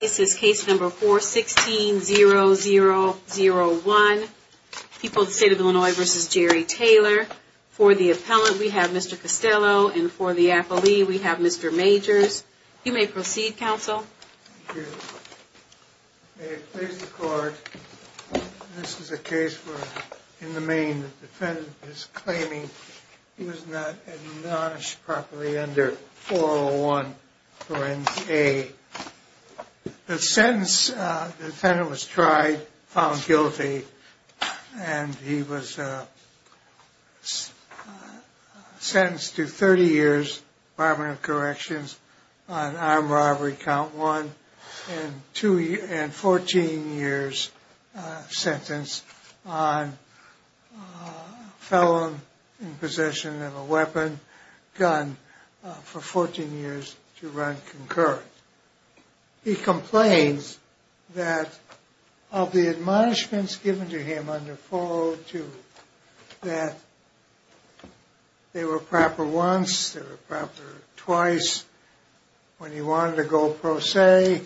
This is case number 416-0001. People of the State of Illinois v. Jerry Taylor. For the appellant, we have Mr. Costello, and for the appellee, we have Mr. Majors. You may proceed, counsel. Thank you. May it please the court, this is a case where in the main the defendant is claiming he was not admonished properly under 401 for NCA. The sentence, the defendant was tried, found guilty, and he was sentenced to 30 years barbering of corrections on armed robbery, count one, and 14 years sentence on felon in possession of a weapon, gun, for 14 years to run concurrent. He complains that of the admonishments given to him under 402, that they were proper once, they were proper twice, when he wanted to go pro se,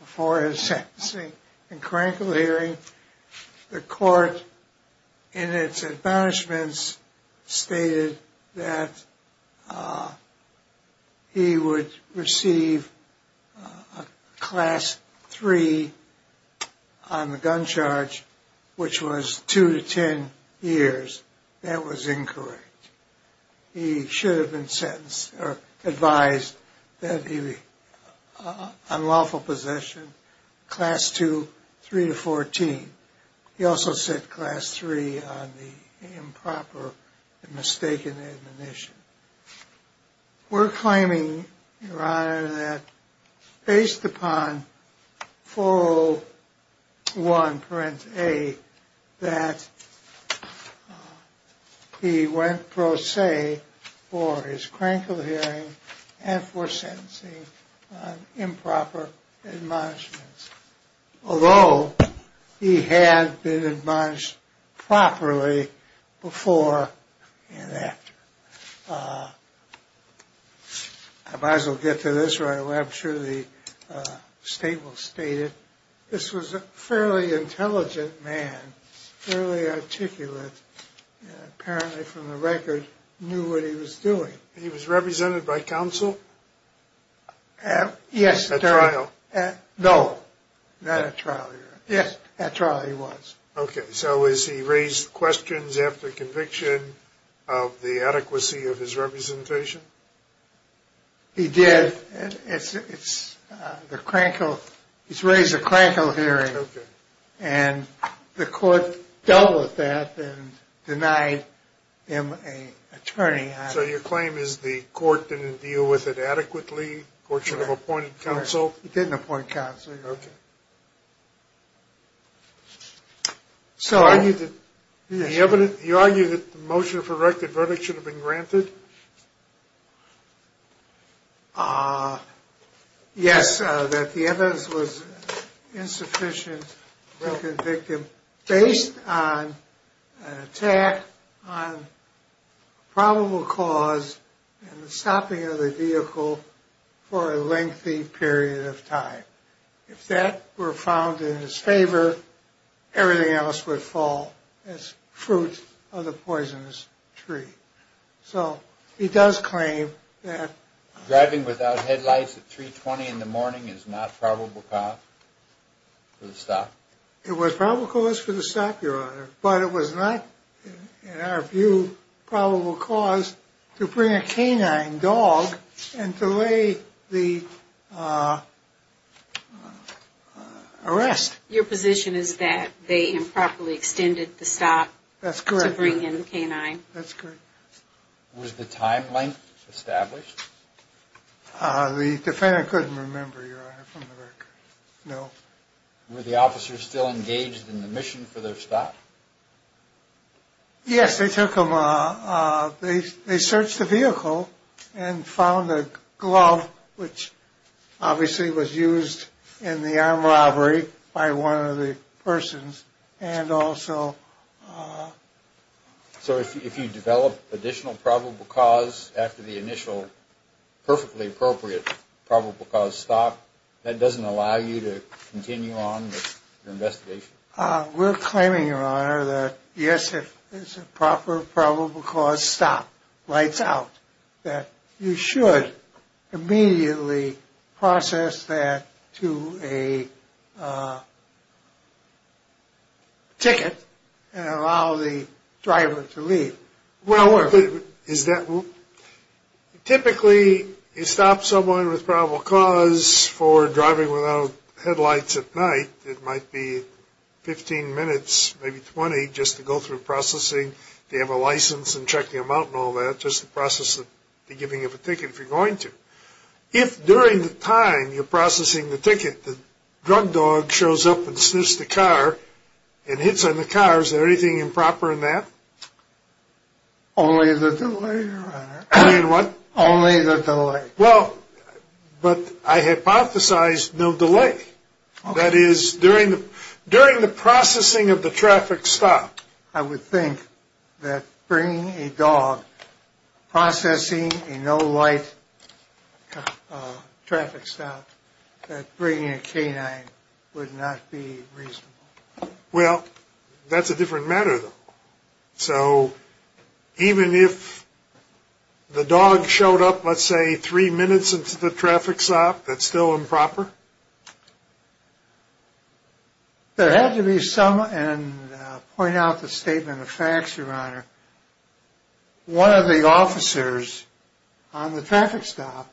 before his sentencing and cranial hearing, the court in its admonishments stated that he would receive a class 3 on the gun charge, which was 2 to 10 years. That was incorrect. He should have been sentenced or advised that he be on lawful possession, class 2, 3 to 14. He also said class 3 on the improper and mistaken admonition. We're claiming, your honor, that based upon 401, parent A, that he went pro se for his cranial hearing and for sentencing on improper admonishments, although he had been admonished properly before and after. I might as well get to this, or I'm sure the state will state it. This was a fairly intelligent man, fairly articulate, apparently from the record knew what he was doing. He was represented by counsel? Yes. At trial? No, not at trial, your honor. Yes. At trial he was. Okay, so has he raised questions after conviction of the adequacy of his representation? He did. He's raised a cranial hearing. Okay. And the court dealt with that and denied him an attorney. So your claim is the court didn't deal with it adequately? The court should have appointed counsel? He didn't appoint counsel, your honor. Okay. So you argue that the motion for verdict should have been granted? Yes, that the evidence was insufficient to convict him based on an attack on probable cause and stopping of the vehicle for a lengthy period of time. If that were found in his favor, everything else would fall as fruit of the poisonous tree. So he does claim that driving without headlights at 3.20 in the morning is not probable cause for the stop? It was probable cause for the stop, your honor, but it was not, in our view, probable cause to bring a canine dog and delay the arrest. Your position is that they improperly extended the stop to bring in the canine? That's correct. Was the time length established? The defendant couldn't remember, your honor, from the record. No. Were the officers still engaged in the mission for their stop? Yes, they took them. They searched the vehicle and found a glove, which obviously was used in the armed robbery by one of the persons, and also... So if you develop additional probable cause after the initial perfectly appropriate probable cause stop, that doesn't allow you to continue on with your investigation? We're claiming, your honor, that yes, if a proper probable cause stop lights out, that you should immediately process that to a ticket and allow the driver to leave. Typically, you stop someone with probable cause for driving without headlights at night, it might be 15 minutes, maybe 20, just to go through processing, to have a license and check the amount and all that, just to process the giving of a ticket if you're going to. If during the time you're processing the ticket, the drug dog shows up and sniffs the car and hits on the car, is there anything improper in that? Only the delay, your honor. Only in what? Only the delay. Well, but I hypothesized no delay. That is, during the processing of the traffic stop. I would think that bringing a dog, processing a no-light traffic stop, that bringing a canine would not be reasonable. Well, that's a different matter, though. So even if the dog showed up, let's say, three minutes into the traffic stop, that's still improper? There had to be some, and I'll point out the statement of facts, your honor, one of the officers on the traffic stop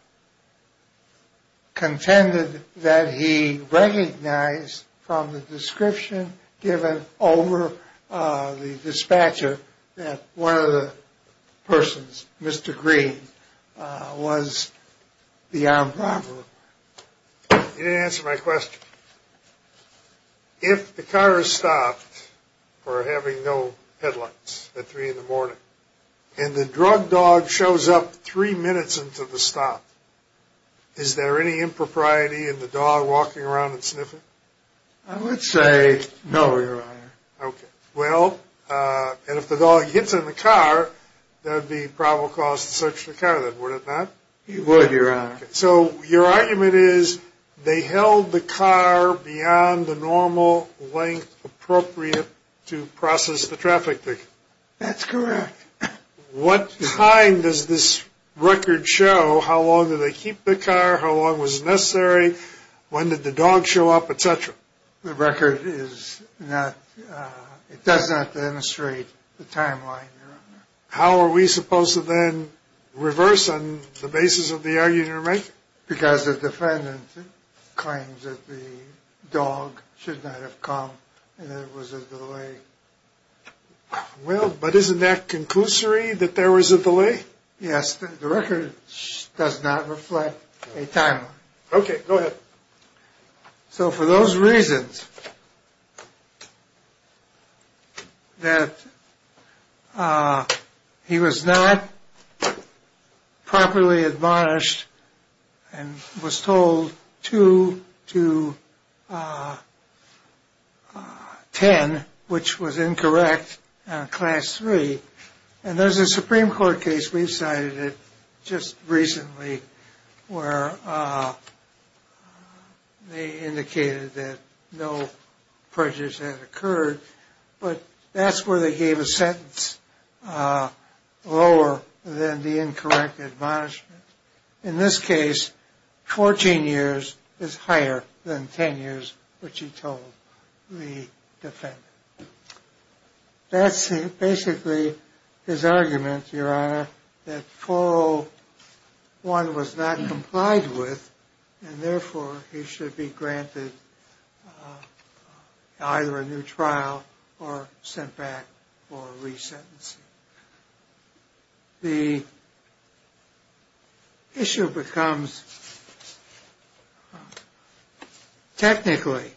contended that he recognized from the description given over the dispatcher that one of the persons, Mr. Green, was the armed robber. You didn't answer my question. If the car is stopped for having no headlights at three in the morning, and the drug dog shows up three minutes into the stop, is there any impropriety in the dog walking around and sniffing? I would say no, your honor. Okay. Well, and if the dog hits on the car, that would be probable cause to search the car, then, would it not? It would, your honor. So your argument is they held the car beyond the normal length appropriate to process the traffic ticket? That's correct. What time does this record show? How long did they keep the car? How long was it necessary? When did the dog show up, et cetera? The record is not, it does not demonstrate the timeline, your honor. How are we supposed to then reverse on the basis of the argument you're making? Because the defendant claims that the dog should not have come and there was a delay. Well, but isn't that conclusory that there was a delay? Yes, the record does not reflect a timeline. Okay, go ahead. So for those reasons that he was not properly admonished and was told 2 to 10, which was incorrect on class 3, and there's a Supreme Court case, we've cited it just recently, where they indicated that no prejudice had occurred, but that's where they gave a sentence lower than the incorrect admonishment. In this case, 14 years is higher than 10 years, which he told the defendant. That's basically his argument, your honor, that 401 was not complied with, and therefore he should be granted either a new trial or sent back for resentencing. The issue becomes, technically,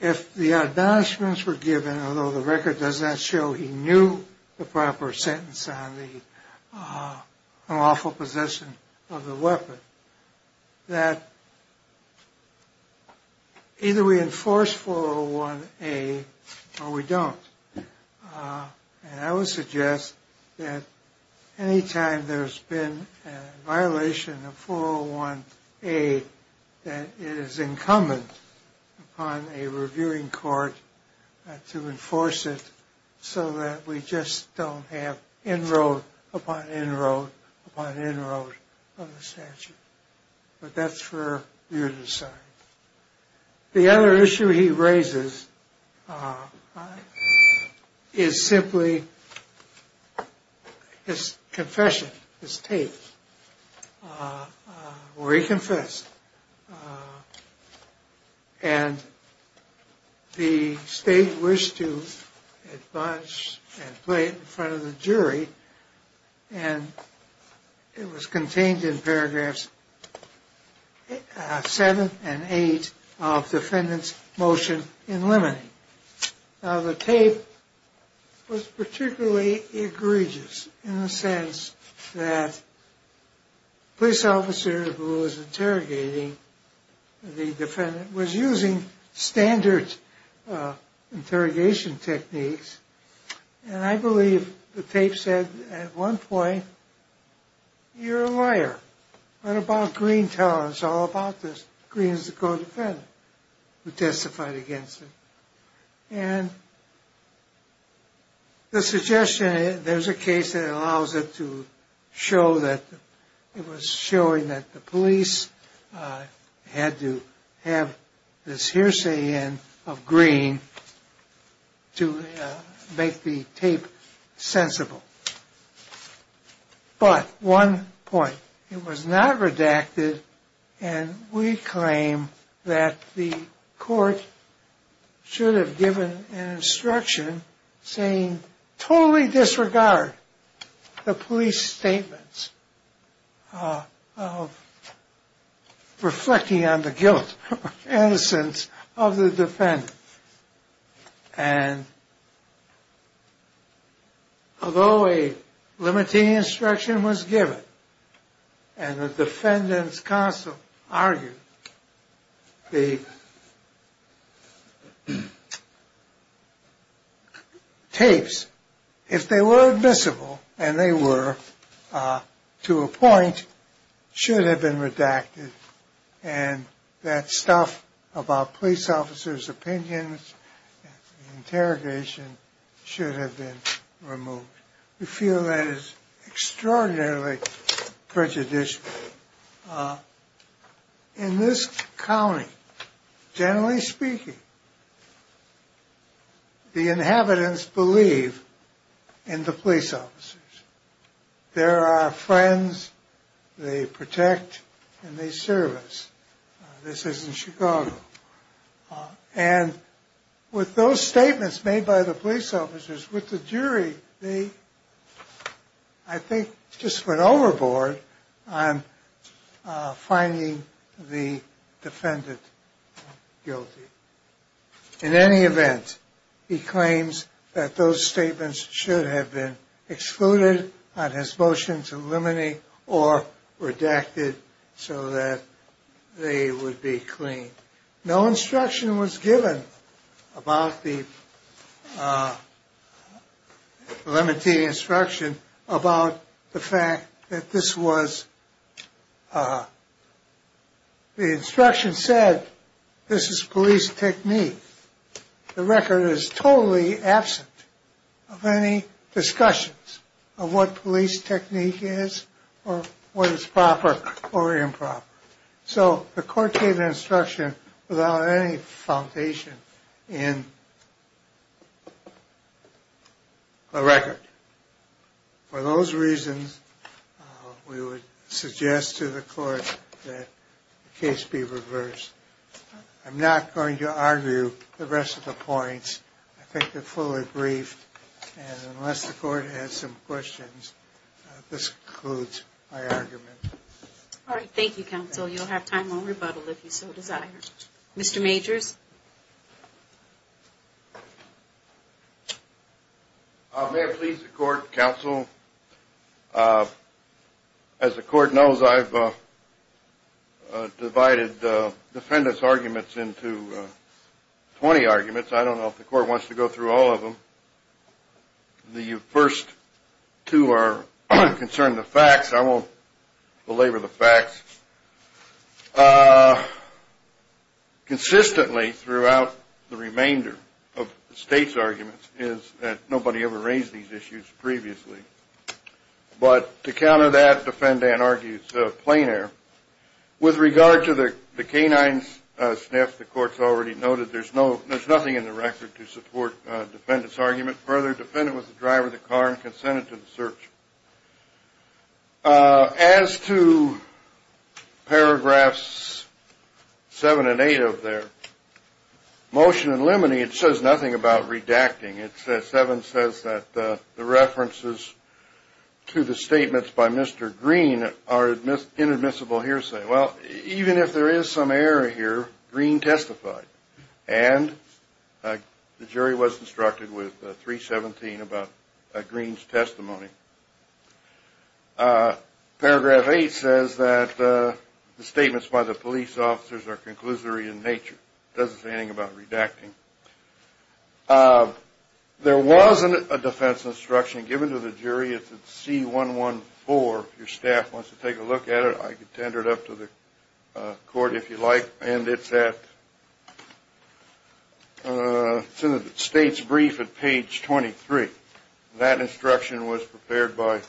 if the admonishments were given, although the record does not show he knew the proper sentence on the unlawful possession of the weapon, that either we enforce 401A or we don't. And I would suggest that anytime there's been a violation of 401A, that it is incumbent upon a reviewing court to enforce it so that we just don't have inroad upon inroad upon inroad on the statute. But that's for you to decide. The other issue he raises is simply his confession, his tape, where he confessed, and the state wished to admonish and play it in front of the jury, and it was contained in paragraphs 7 and 8 of the defendant's motion in limine. Now, the tape was particularly egregious in the sense that the police officer who was interrogating the defendant was using standard interrogation techniques, and I believe the tape said at one point, You're a liar. What about Greene telling us all about this? Greene is the co-defendant who testified against him. And the suggestion, there's a case that allows it to show that it was showing that the police had to have this hearsay in of Greene to make the tape sensible. But one point, it was not redacted, and we claim that the court should have given an instruction saying, We totally disregard the police statements of reflecting on the guilt or innocence of the defendant. And although a limiting instruction was given, and the defendant's counsel argued, the tapes, if they were admissible, and they were, to a point, should have been redacted, and that stuff about police officers' opinions, interrogation, should have been removed. We feel that is extraordinarily prejudicial. In this county, generally speaking, the inhabitants believe in the police officers. They're our friends, they protect, and they serve us. This is in Chicago. And with those statements made by the police officers, with the jury, they, I think, just went overboard on finding the defendant guilty. In any event, he claims that those statements should have been excluded on his motion to eliminate or redacted so that they would be clean. No instruction was given about the limiting instruction about the fact that this was, the instruction said this is police technique. The record is totally absent of any discussions of what police technique is, or what is proper or improper. So the court gave instruction without any foundation in the record. For those reasons, we would suggest to the court that the case be reversed. I'm not going to argue the rest of the points. I think they're fully briefed. And unless the court has some questions, this concludes my argument. All right, thank you, counsel. You'll have time on rebuttal if you so desire. Mr. Majors? May I please, the court, counsel? As the court knows, I've divided the defendants' arguments into 20 arguments. I don't know if the court wants to go through all of them. The first two are concerning the facts. I won't belabor the facts. Consistently, throughout the remainder of the state's arguments, nobody ever raised these issues previously. But to counter that, the defendant argues plain air. With regard to the canine sniff, the court's already noted there's nothing in the record to support the defendant's argument. Further, the defendant was the driver of the car and consented to the search. As to paragraphs 7 and 8 of their motion in limine, it says nothing about redacting. It says, 7 says that the references to the statements by Mr. Green are inadmissible hearsay. Well, even if there is some error here, Green testified. And the jury was instructed with 317 about Green's testimony. Paragraph 8 says that the statements by the police officers are conclusory in nature. It doesn't say anything about redacting. There was a defense instruction given to the jury. It's at C114. If your staff wants to take a look at it, I could tender it up to the court, if you like. And it's in the state's brief at page 23. That instruction was prepared by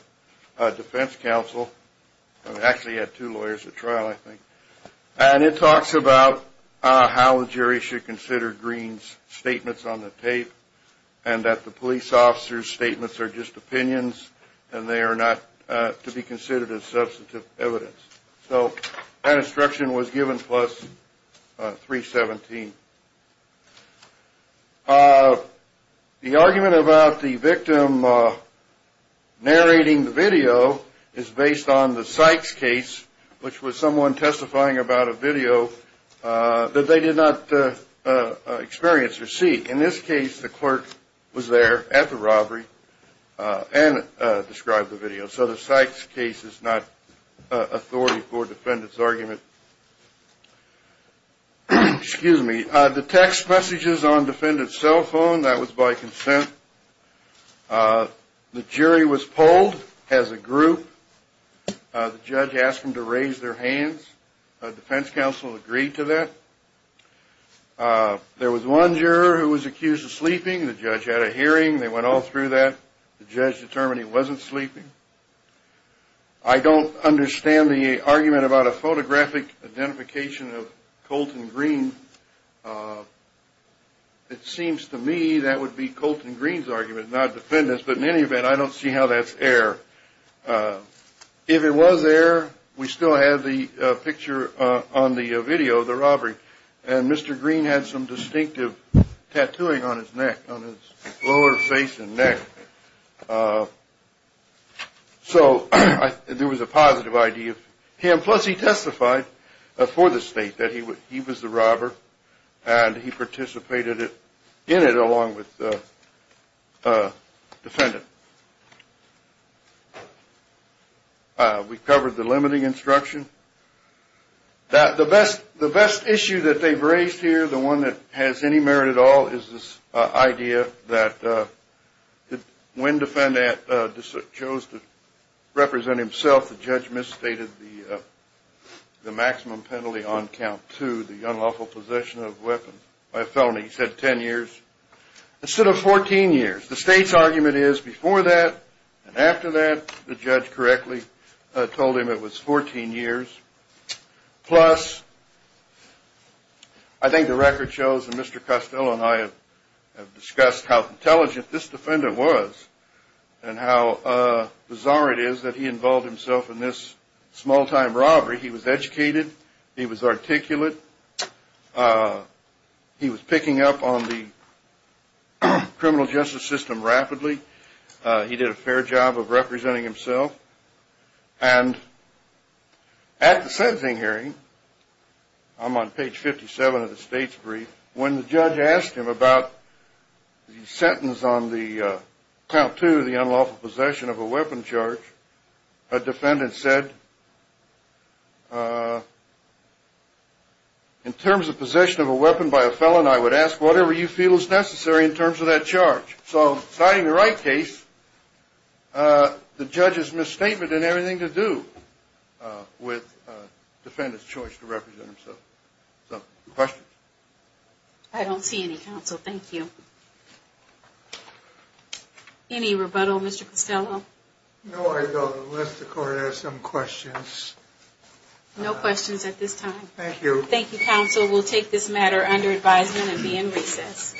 a defense counsel. It actually had two lawyers at trial, I think. And it talks about how the jury should consider Green's statements on the tape and that the police officers' statements are just opinions and they are not to be considered as substantive evidence. So that instruction was given plus 317. The argument about the victim narrating the video is based on the Sykes case, which was someone testifying about a video that they did not experience or see. In this case, the clerk was there at the robbery and described the video. So the Sykes case is not authority for defendant's argument. The text messages on defendant's cell phone, that was by consent. The jury was polled as a group. The judge asked them to raise their hands. A defense counsel agreed to that. There was one juror who was accused of sleeping. The judge had a hearing. They went all through that. The judge determined he wasn't sleeping. I don't understand the argument about a photographic identification of Colton Green. It seems to me that would be Colton Green's argument, not defendant's. But in any event, I don't see how that's error. If it was error, we still have the picture on the video of the robbery. And Mr. Green had some distinctive tattooing on his neck, on his lower face and neck. So there was a positive idea of him. Plus, he testified for the state that he was the robber, and he participated in it along with the defendant. We covered the limiting instruction. The best issue that they've raised here, the one that has any merit at all, is this idea that when defendant chose to represent himself, the judge misstated the maximum penalty on count two, the unlawful possession of a weapon by a felony. He said 10 years instead of 14 years. The state's argument is before that and after that, the judge correctly told him it was 14 years. Plus, I think the record shows that Mr. Costello and I have discussed how intelligent this defendant was and how bizarre it is that he involved himself in this small-time robbery. He was educated. He was articulate. He was picking up on the criminal justice system rapidly. He did a fair job of representing himself. And at the sentencing hearing, I'm on page 57 of the state's brief, when the judge asked him about the sentence on count two, the unlawful possession of a weapon charge, a defendant said, in terms of possession of a weapon by a felony, I would ask whatever you feel is necessary in terms of that charge. So, citing the right case, the judge's misstatement had everything to do with the defendant's choice to represent himself. So, questions? I don't see any, counsel. Thank you. Any rebuttal, Mr. Costello? No, I don't, unless the court has some questions. No questions at this time. Thank you. Thank you, counsel. We'll take this matter under advisement and be in recess.